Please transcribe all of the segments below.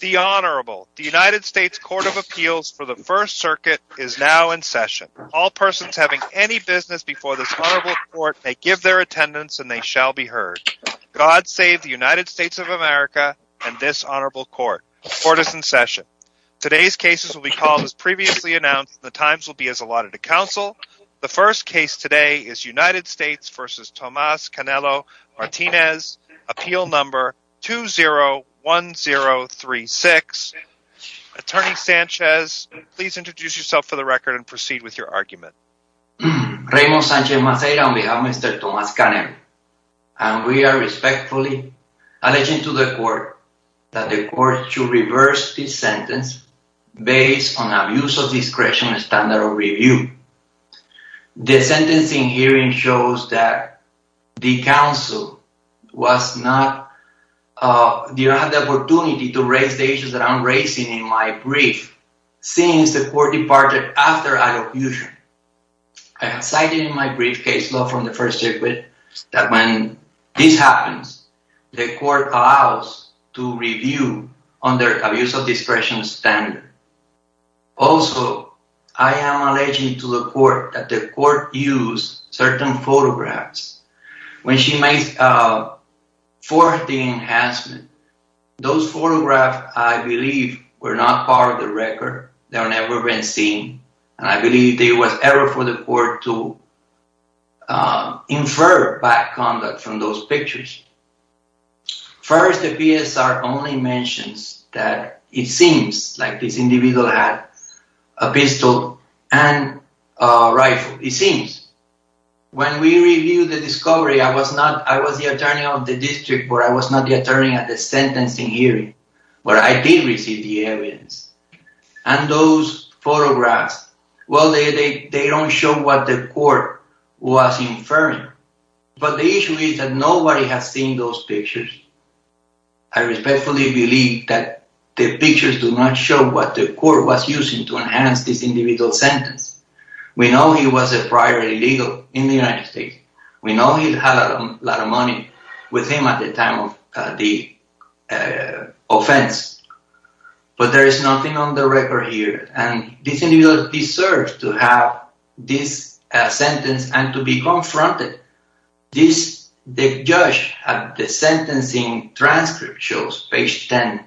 The Honorable, the United States Court of Appeals for the First Circuit is now in session. All persons having any business before this Honorable Court may give their attendance and they shall be heard. God save the United States of America and this Honorable Court. The Court is in session. Today's cases will be called as previously announced. The times will be as allotted to 3-6. Attorney Sanchez, please introduce yourself for the record and proceed with your argument. Raymond Sanchez-Maceira on behalf of Mr. Thomas Canelo. And we are respectfully alleging to the Court that the Court should reverse this sentence based on abuse of discretion and standard of review. The sentencing hearing shows that the counsel was not, uh, did not have the opportunity to raise the issues that I'm raising in my brief since the Court departed after I abused her. I have cited in my briefcase law from the First Circuit that when this happens, the Court allows to review under abuse of discretion standard. Also, I am alleging to the Court that the Court used certain photographs. When she made, uh, for the enhancement, those photographs, I believe, were not part of the record. They have never been seen. And I believe there was error for the Court to, uh, infer bad conduct from those pictures. First, the PSR only mentions that it seems like this individual had a pistol and a rifle. It seems. When we reviewed the discovery, I was not, the district, where I was not the attorney at the sentencing hearing, but I did receive the evidence. And those photographs, well, they don't show what the Court was inferring. But the issue is that nobody has seen those pictures. I respectfully believe that the pictures do not show what the Court was using to enhance this individual's sentence. We know he was a prior illegal in the United States. We know he had a lot of money with him at the time of the, uh, offense. But there is nothing on the record here. And this individual deserves to have this, uh, sentence and to be confronted. This, the judge at the sentencing transcript shows, page 10,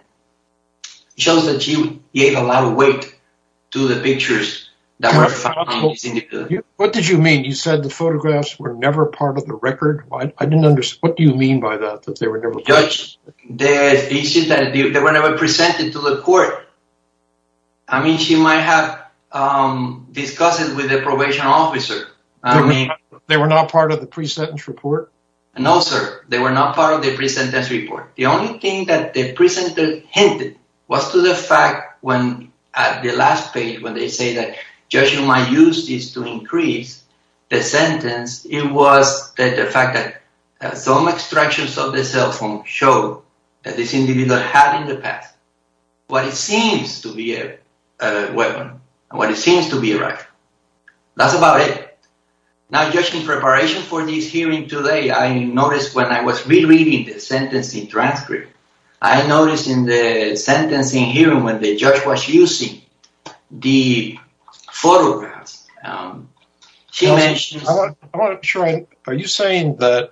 shows that he gave a weight to the pictures that were found on this individual. What did you mean? You said the photographs were never part of the record? I didn't understand. What do you mean by that, that they were never presented? Judge, the issue is that they were never presented to the Court. I mean, she might have, um, discussed it with the probation officer. They were not part of the pre-sentence report? No, sir. They were not part of the pre-sentence report. Hint, was to the fact when, at the last page, when they say that, Judge, you might use this to increase the sentence, it was that the fact that some extractions of the cell phone show that this individual had in the past what it seems to be a weapon, what it seems to be a rifle. That's about it. Now, Judge, in preparation for this hearing today, I noticed when I was rereading the sentencing transcript, I noticed in the sentencing hearing when the judge was using the photographs, um, she mentioned... I want to try, are you saying that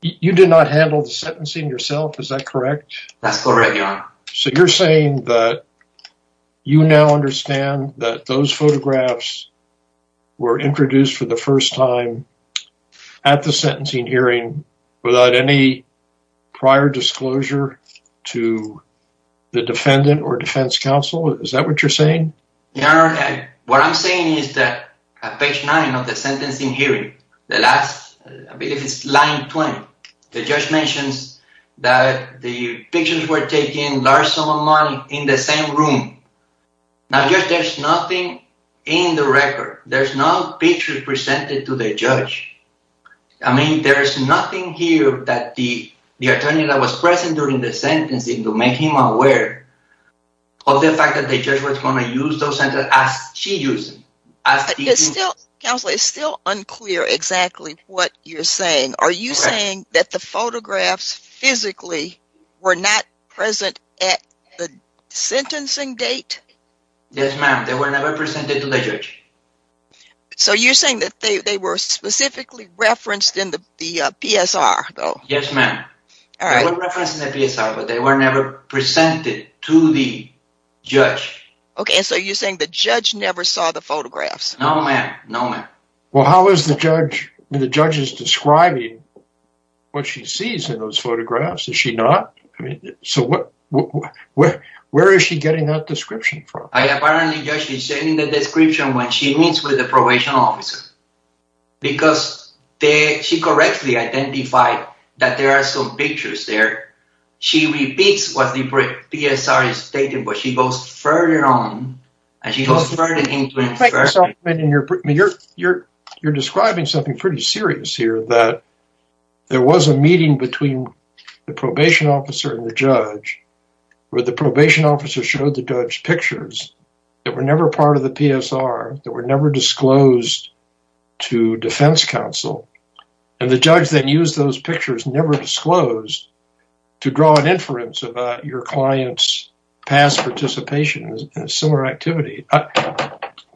you did not handle the sentencing yourself? Is that correct? That's correct, Your Honor. So you're saying that you now understand that those photographs were introduced for the first time at the sentencing hearing without any prior disclosure to the defendant or defense counsel? Is that what you're saying? Your Honor, what I'm saying is that at page nine of the sentencing hearing, the last, I believe it's line 20, the judge mentions that the pictures were taken large sum of money in the same room. Now, Judge, there's nothing in the record. There's no pictures presented to the judge. I mean, there's nothing here that the attorney that was present during the sentencing to make him aware of the fact that the judge was going to use those sentences as she used them. Counselor, it's still unclear exactly what you're saying. Are you saying that the photographs physically were not present at the sentencing date? Yes, ma'am. They were never presented to the judge. So you're saying that they were specifically referenced in the PSR, though? Yes, ma'am. They were referenced in the PSR, but they were never presented to the judge. Okay, so you're saying the judge never saw the photographs? No, ma'am. No, ma'am. Well, how is the judge describing what she sees in those photographs? Is she not? I mean, so where is she getting that description from? Apparently, she's getting the description when she meets with the probation officer because she correctly identified that there are some pictures there. She repeats what the PSR is stating, but she goes further on and she goes further into it. You're describing something pretty serious here that there was a meeting between the probation officer and the judge where the probation officer showed the judge pictures that were never part of the PSR, that were never disclosed to defense counsel, and the judge then used those pictures never disclosed to draw an inference about your client's past participation in a similar activity.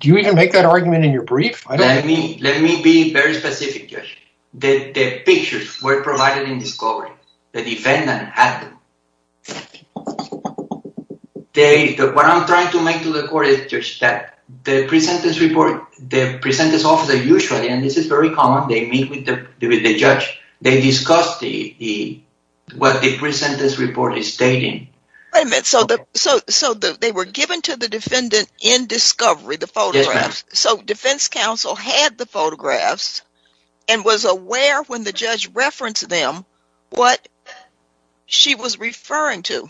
Do you even make that argument in your brief? Let me be very specific, Judge. The pictures were provided in discovery. The defendant had them. What I'm trying to make to the court is, Judge, that the presentence report, the presentence officer usually, and this is very common, they meet with the judge, they discuss what the presentence report is stating. Wait a minute, so they were given to the defendant in discovery, the photographs, so defense counsel had the photographs and was aware when the judge referenced them what she was referring to.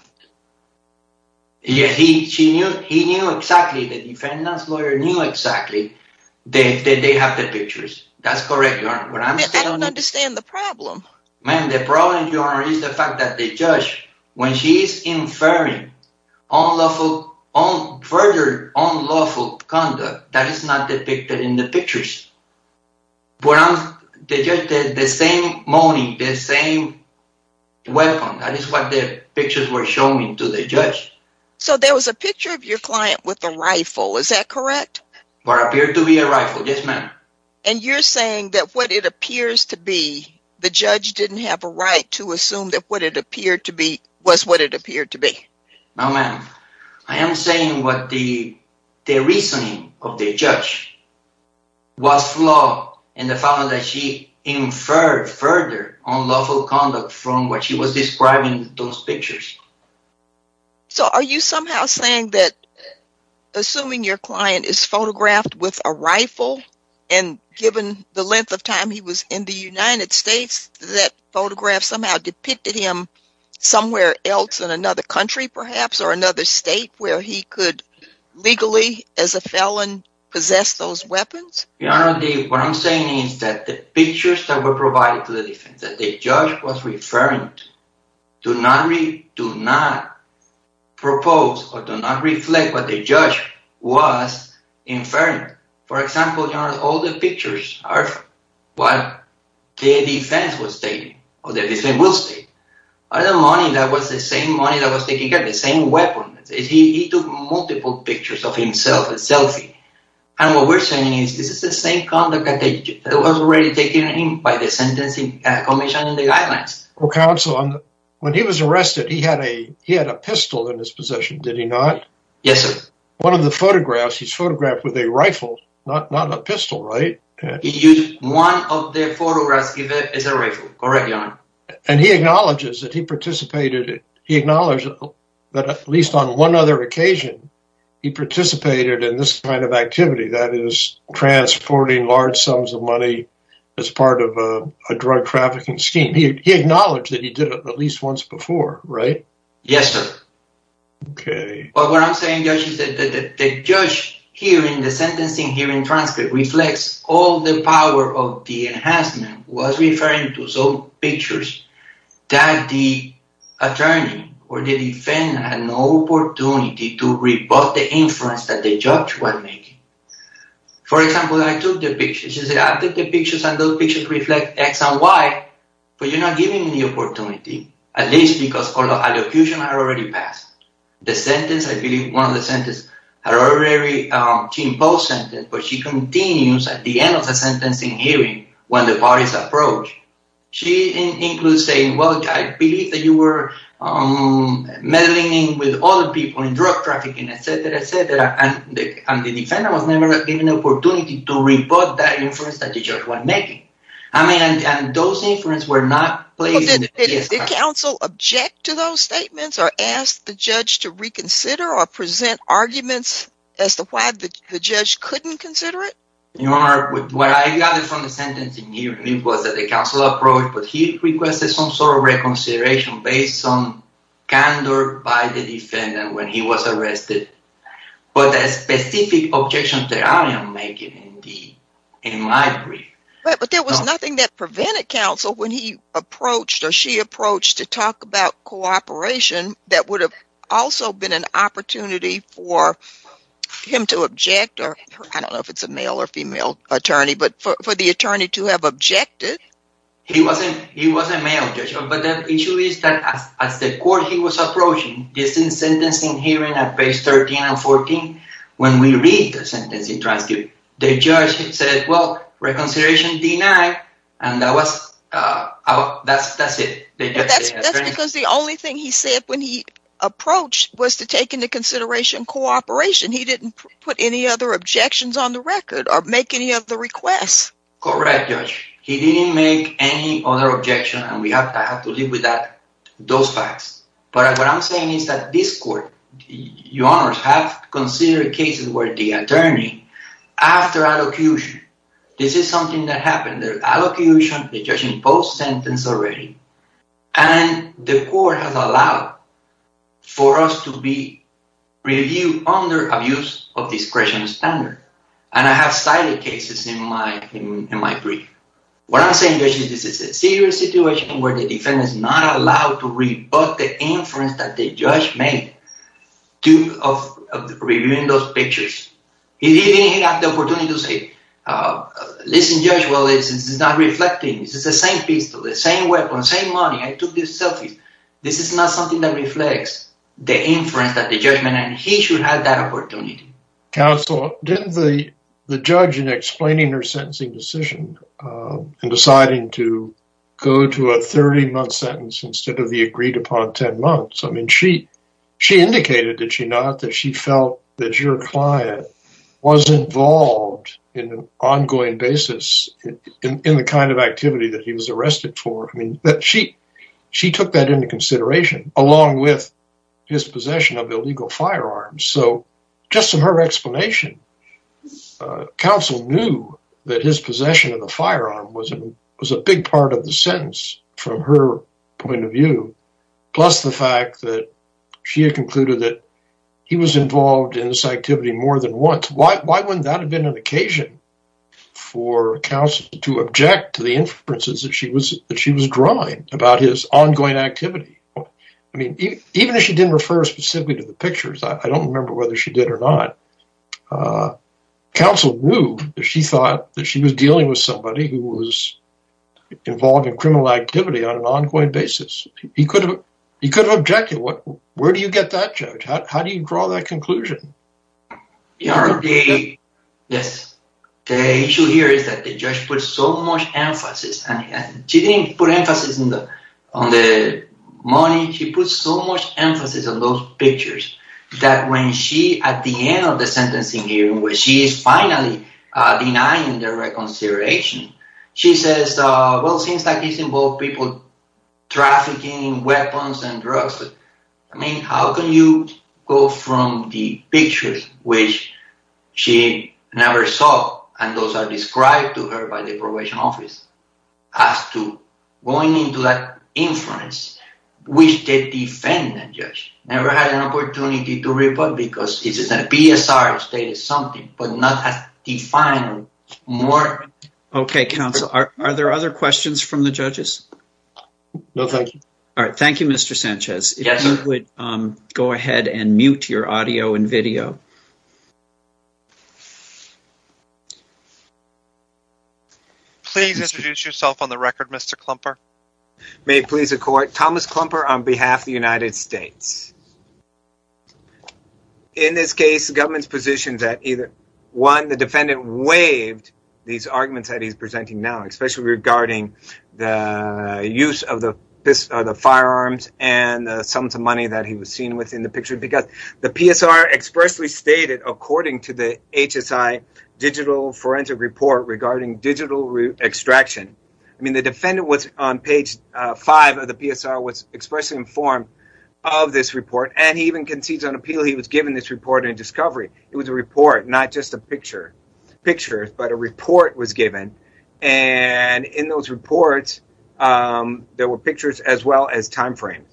Yes, he knew exactly, the defendant's lawyer knew exactly that they have the pictures. That's correct, Your Honor. But I don't understand the problem. Man, the problem, Your Honor, is the fact that the judge, when she's inferring further unlawful conduct, that is not depicted in the pictures. The same moaning, the same weapon, that is what the pictures were showing to the judge. So there was a picture of your client with a rifle, is that correct? What appeared to be a rifle, yes, ma'am. And you're saying that what it appears to be, the judge didn't have a right to assume that what it appeared to be was what it appeared to be? No, ma'am. I am saying what the reasoning of the judge was flawed in the fact that she inferred further unlawful conduct from what she was describing in those pictures. So are you somehow saying that, assuming your client is photographed with a rifle, and given the length of time he was in the United States, that photograph somehow depicted him somewhere else in another country, perhaps, or another state, where he could legally, as a felon, possess those weapons? Your Honor, what I'm saying is that the pictures that were provided to the defense, that the judge was referring to, do not propose or do not reflect what the judge was inferring. For example, Your Honor, all the pictures are what the defense was stating, or the defense will state, are the money that was the same money that was taken, the same weapons. He took multiple pictures of himself, a selfie. And what we're saying is this is the same conduct that was already taken in by the Sentencing Commission and the guidelines. Well, counsel, when he was arrested, he had a pistol in his possession, did he not? Yes, sir. One of the photographs, he's photographed with a rifle, not a pistol, right? He used one of the photographs as a rifle, correct, Your Honor? And he acknowledges that he participated, he acknowledged that at least on one other occasion, he participated in this kind of activity, that is, transporting large sums of money as part of a drug trafficking scheme. He acknowledged that he did it at least once before, right? Yes, sir. Okay. But what I'm saying, Judge, is that the judge hearing, the sentencing hearing transcript, reflects all the power of the enhancement was referring to some pictures that the attorney or the defendant had no opportunity to rebut the influence that the judge was making. For example, I took the pictures. He said, I took the pictures and those pictures reflect x and y, but you're not giving me the opportunity, at least because all the allocutions are already passed. The sentence, I believe, one of the sentences had already, she imposed sentence, but she continues at the end of the sentencing hearing when the bodies approach. She includes saying, well, I believe that you were meddling with other people in drug trafficking, et cetera, et cetera, and the defendant was never given an opportunity to rebut that influence that the judge was making. I mean, and those inferences were not placed in the TSR. Did counsel object to those statements or ask the judge to reconsider or present arguments as to why the judge couldn't consider it? Your Honor, what I got from the sentencing hearing was that the counsel approached, but he requested some sort of reconsideration based on candor by the defendant when he was arrested for the specific objections that I am making in my brief. But there was nothing that prevented counsel when he approached or she approached to talk about cooperation that would have also been an opportunity for him to object, or I don't know if it's a male or female attorney, but for the attorney to have objected. He was a male judge, but the issue is that as the court he was approaching, this sentencing hearing at page 13 and 14, when we read the sentencing transcript, the judge said, well, reconsideration denied, and that's it. That's because the only thing he said when he approached was to take into consideration cooperation. He didn't put any other objections on the record or make any other requests. Correct, Judge. He didn't make any other objections, and we have to live with those facts. But what I'm saying is that this court, Your Honor, have considered cases where the attorney after allocution, this is something that happened, the allocution, the judge imposed sentence already, and the court has allowed for us to be reviewed under abuse of discretion standard, and I have cited cases in my brief. What I'm saying, Judge, is this is a serious situation where the defendant is not allowed to rebut the inference that the judge made of reviewing those pictures. He didn't have the opportunity to say, listen, Judge, well, this is not reflecting. This is the same pistol, the same weapon, same money. I took these selfies. This is not something that reflects the inference that the judgment, and he should have that opportunity. Counsel, didn't the judge in explaining her sentencing decision and deciding to go to a 30-month sentence instead of the that she felt that your client was involved in an ongoing basis in the kind of activity that he was arrested for? I mean, she took that into consideration along with his possession of illegal firearms. So just from her explanation, counsel knew that his possession of the firearm was a big part of the sentence from her point of view, plus the fact that she had concluded that he was involved in this activity more than once. Why wouldn't that have been an occasion for counsel to object to the inferences that she was drawing about his ongoing activity? I mean, even if she didn't refer specifically to the pictures, I don't remember whether she did or not. Counsel knew that she thought that she was dealing with who was involved in criminal activity on an ongoing basis. He could have objected. Where do you get that, Judge? How do you draw that conclusion? Yes. The issue here is that the judge put so much emphasis, and she didn't put emphasis on the money. She put so much emphasis on those pictures that when she, at the end of the sentencing hearing, when she is finally denying the reconsideration, she says, well, it seems like this involved people trafficking weapons and drugs. I mean, how can you go from the pictures which she never saw, and those are described to her by the probation office, as to going into that inference, which the defendant, Judge, never had an opportunity to report because this is a PSR state is something, but not defined more. Okay, Counsel. Are there other questions from the judges? No, thank you. All right. Thank you, Mr. Sanchez. If you would go ahead and mute your audio and video. Please introduce yourself on the record, Mr. Klumper. May it please the court. Thomas Klumper on behalf of the United States. In this case, the government's position that one, the defendant waived these arguments that he's presenting now, especially regarding the use of the firearms and the sums of money that he was seen with in the picture because the PSR expressly stated, according to the HSI digital forensic report regarding digital extraction. I mean, the defendant was on page five of the PSR, was expressly informed of this report, and he even concedes on appeal. He was given this report in discovery. It was a report, not just a picture, but a report was given. And in those reports, there were pictures as well as timeframes.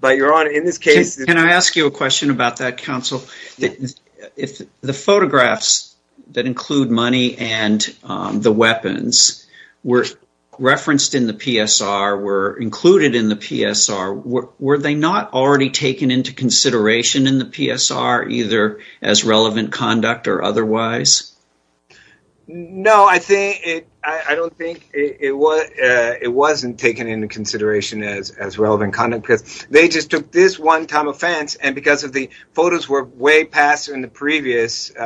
But your honor, in this case. Can I ask you a question about that, Counsel? If the photographs that include money and the weapons were referenced in the PSR, were included in the PSR, were they not already taken into consideration in the PSR either as relevant conduct or otherwise? No, I don't think it was. It wasn't taken into consideration as relevant conduct because they just took this one time offense. And because of the photos were way past in the previous, in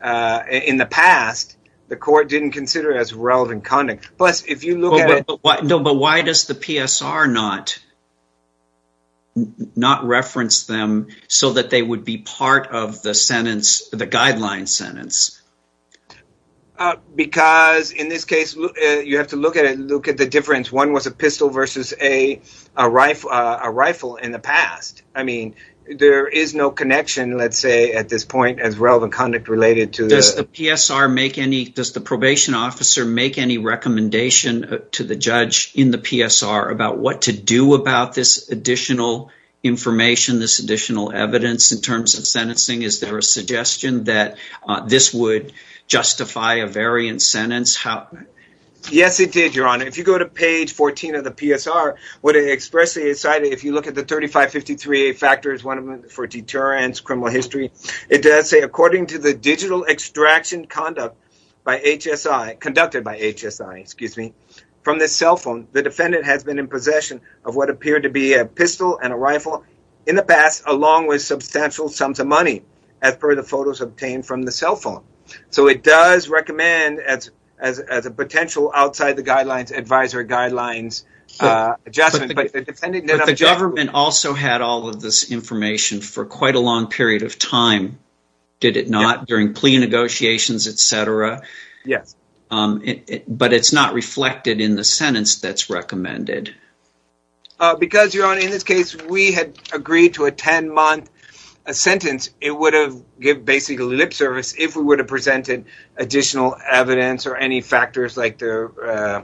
the past, the court didn't consider it as relevant conduct. Plus, if you look at it. No, but why does the PSR not reference them so that they would be part of the sentence, the guideline sentence? Because in this case, you have to look at it, look at the difference. One was a pistol versus a rifle in the past. I mean, there is no connection, let's say at this point as relevant conduct related to the PSR. Does the probation officer make any recommendation to the judge in the PSR about what to do about this additional information, this additional evidence in terms of sentencing? Is there a suggestion that this would justify a variant sentence? Yes, it did, Your Honor. If you go to page 14 of the PSR, what it expressly cited, if you look at the 3553A factors, one of them for deterrence, criminal history, it does say, according to the digital extraction conduct by HSI, conducted by HSI, excuse me, from the cell phone, the defendant has been in possession of what appeared to be a pistol and a rifle in the past, along with substantial sums of money as per the photos obtained from the cell phone. So it does recommend as a potential outside the guidelines, advisory guidelines, adjustment. But the government also had all of this information for quite a long period of time, did it not? During plea negotiations, etc. Yes. But it's not reflected in the sentence that's recommended. Because, Your Honor, in this case, we had agreed to a 10-month sentence, it would have basically lip service if we would have presented additional evidence or any factors like the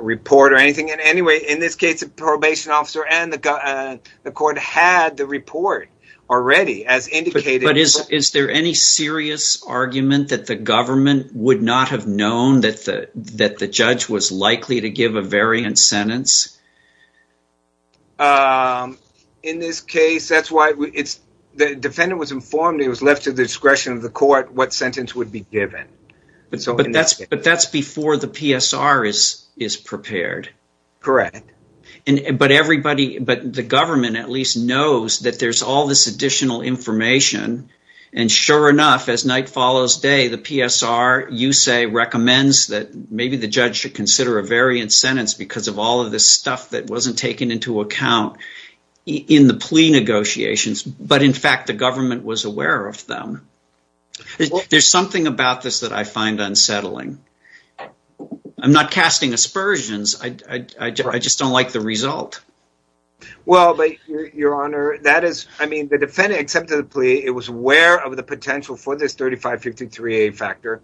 report or anything. And anyway, in this case, the probation officer and the court had the report already as indicated. But is there any serious argument that the government would not have known that the judge was likely to give a variant sentence? In this case, that's why it's the defendant was informed he was left to the discretion of the court what sentence would be given. But that's before the PSR is prepared. Correct. But everybody, but the government at least knows that there's all this additional information. And sure enough, as night follows day, the PSR, you say, recommends that maybe the judge should that wasn't taken into account in the plea negotiations. But in fact, the government was aware of them. There's something about this that I find unsettling. I'm not casting aspersions. I just don't like the result. Well, Your Honor, that is, I mean, the defendant accepted the plea, it was aware of the potential for this 3553A factor.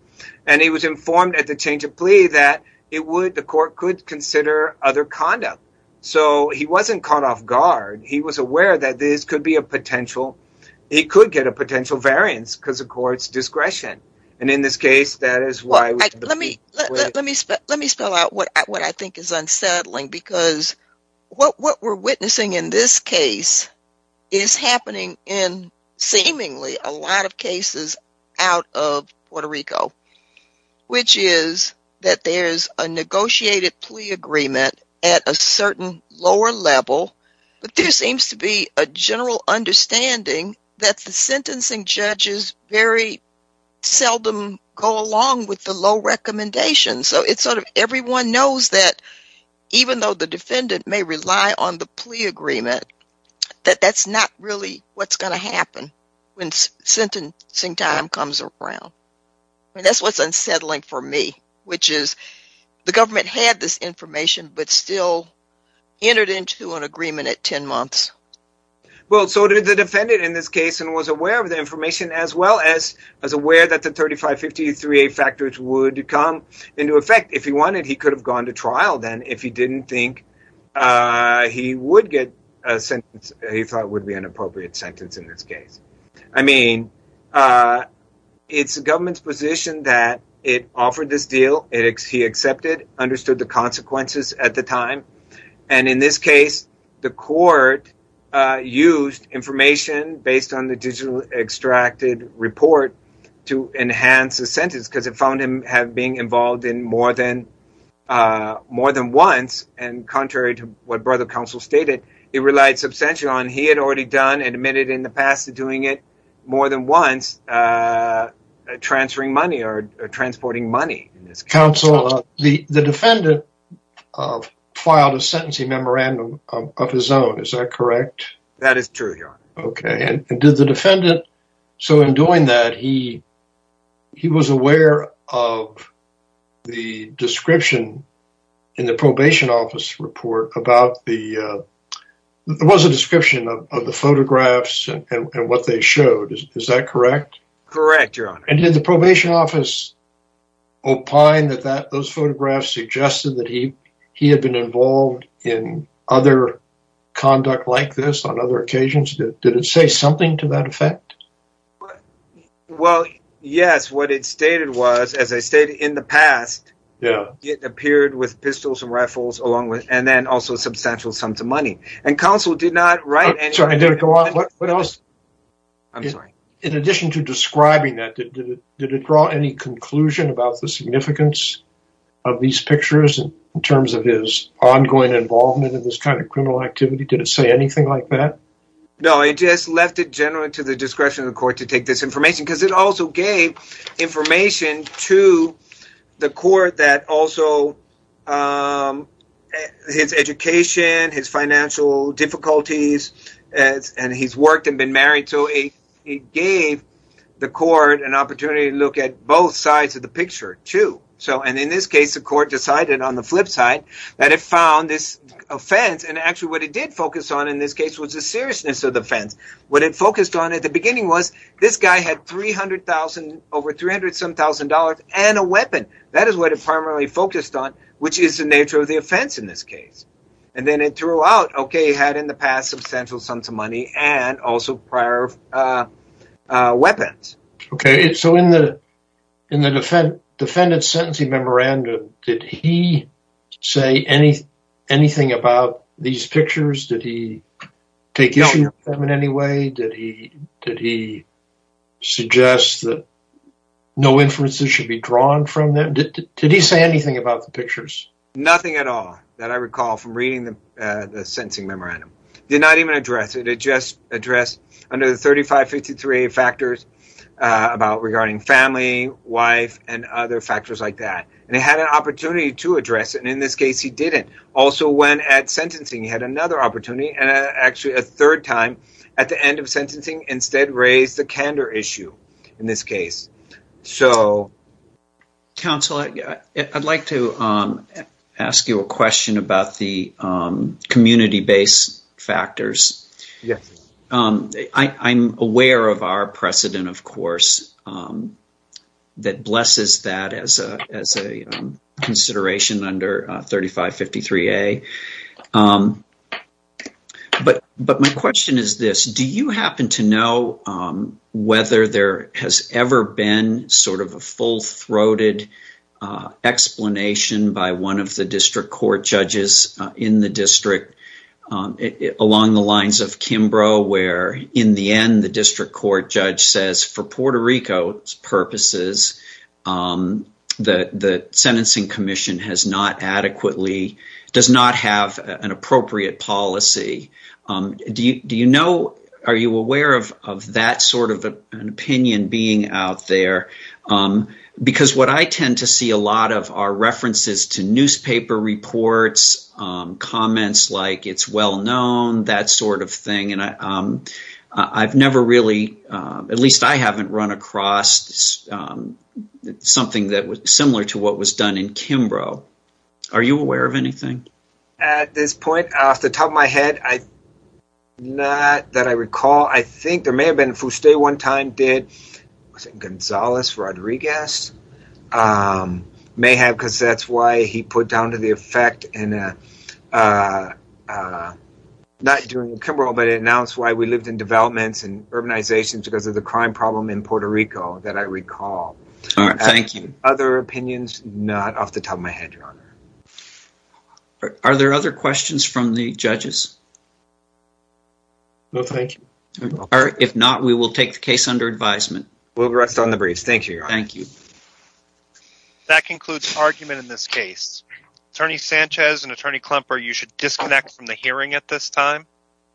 And he was informed at the change of plea that it would the court could consider other conduct. So he wasn't caught off guard. He was aware that this could be a potential, he could get a potential variance because of court's discretion. And in this case, that is why. Well, let me, let me, let me spell out what I think is unsettling, because what we're witnessing in this case is happening in seemingly a lot of cases out of Puerto Rico, which is that there's a negotiated plea agreement at a certain lower level. But there seems to be a general understanding that the sentencing judges very seldom go along with the low recommendations. So it's sort of everyone knows that even though the defendant may rely on the plea agreement, that that's not really what's going to happen when sentencing time comes around. That's what's unsettling for me, which is the government had this information, but still entered into an agreement at 10 months. Well, so did the defendant in this case and was aware of the information as well as, as aware that the 3553A factors would come into effect. If he wanted, he could have gone to trial then if he didn't think he would get a sentence he thought would be an appropriate sentence in this case. I mean, it's the government's position that it offered this deal. He accepted, understood the consequences at the time. And in this case, the court used information based on the digital extracted report to enhance the sentence because it found him have been involved in more than, more than once. And contrary to what brother counsel stated, he relied substantially on admitted in the past of doing it more than once, transferring money or transporting money. Counsel, the defendant filed a sentencing memorandum of his own. Is that correct? That is true, Your Honor. Okay. And did the defendant, so in doing that, he was aware of the description in the probation office report about the, there was a description of the photographs and what they showed. Is that correct? Correct, Your Honor. And did the probation office opine that those photographs suggested that he had been involved in other conduct like this on other occasions? Did it say something to that effect? But, well, yes, what it stated was, as I stated in the past, it appeared with pistols and rifles along with, and then also substantial sums of money. And counsel did not write. I'm sorry, did it go on? What else? I'm sorry. In addition to describing that, did it draw any conclusion about the significance of these pictures in terms of his ongoing involvement in this kind of criminal activity? Did it say anything like that? No, it just left it generally to the discretion of the court to take this information because it also gave information to the court that also his education, his financial difficulties, and he's worked and been married, so it gave the court an opportunity to look at both sides of the picture, too. And in this case, the court decided on the flip side that it found this offense. What it focused on at the beginning was this guy had over $300,000 and a weapon. That is what it primarily focused on, which is the nature of the offense in this case. And then it threw out, okay, he had in the past substantial sums of money and also prior weapons. Okay, so in the defendant's sentencing memorandum, did he say anything about these pictures? Did he take issue with them in any way? Did he suggest that no inferences should be drawn from them? Did he say anything about the pictures? Nothing at all that I recall from reading the sentencing memorandum. Did not even address it. It just addressed under the 3553 factors about regarding family, wife, and other factors like that. And it had an opportunity to address it, and in this case, he didn't. Also, when at sentencing, he had another opportunity, and actually a third time at the end of sentencing, instead raised the candor issue in this case. Counsel, I'd like to ask you a question about the community-based factors. I'm aware of our precedent, of course, that blesses that as a consideration under 3553A. But my question is this. Do you happen to know whether there has ever been sort of a full-throated explanation by one of the district court judges in the district along the lines of Kimbrough, where in the end, the district court judge says, for Puerto Rico's purposes, that the sentencing commission has not adequately, does not have an appropriate policy. Do you know, are you aware of that sort of an opinion being out there? Because what I tend to see a lot of are references to newspaper reports, comments like it's well-known, that sort of thing. And I've never really, at least I haven't run across something that was similar to what was done in Kimbrough. Are you aware of anything? At this point, off the top of my head, not that I recall. I think there may have been, Fuste one time did, was it Gonzales Rodriguez? May have, because that's why he put down to the effect in, not during Kimbrough, but it announced why we lived in developments and urbanizations because of the crime problem in Puerto Rico that I recall. Thank you. Other opinions, not off the top of my head, your honor. Are there other questions from the judges? No, thank you. All right. If not, we will take the case under advisement. We'll rest on the breeze. Thank you. Thank you. That concludes argument in this case. Attorney Sanchez and Attorney Klemper, you should disconnect from the hearing at this time.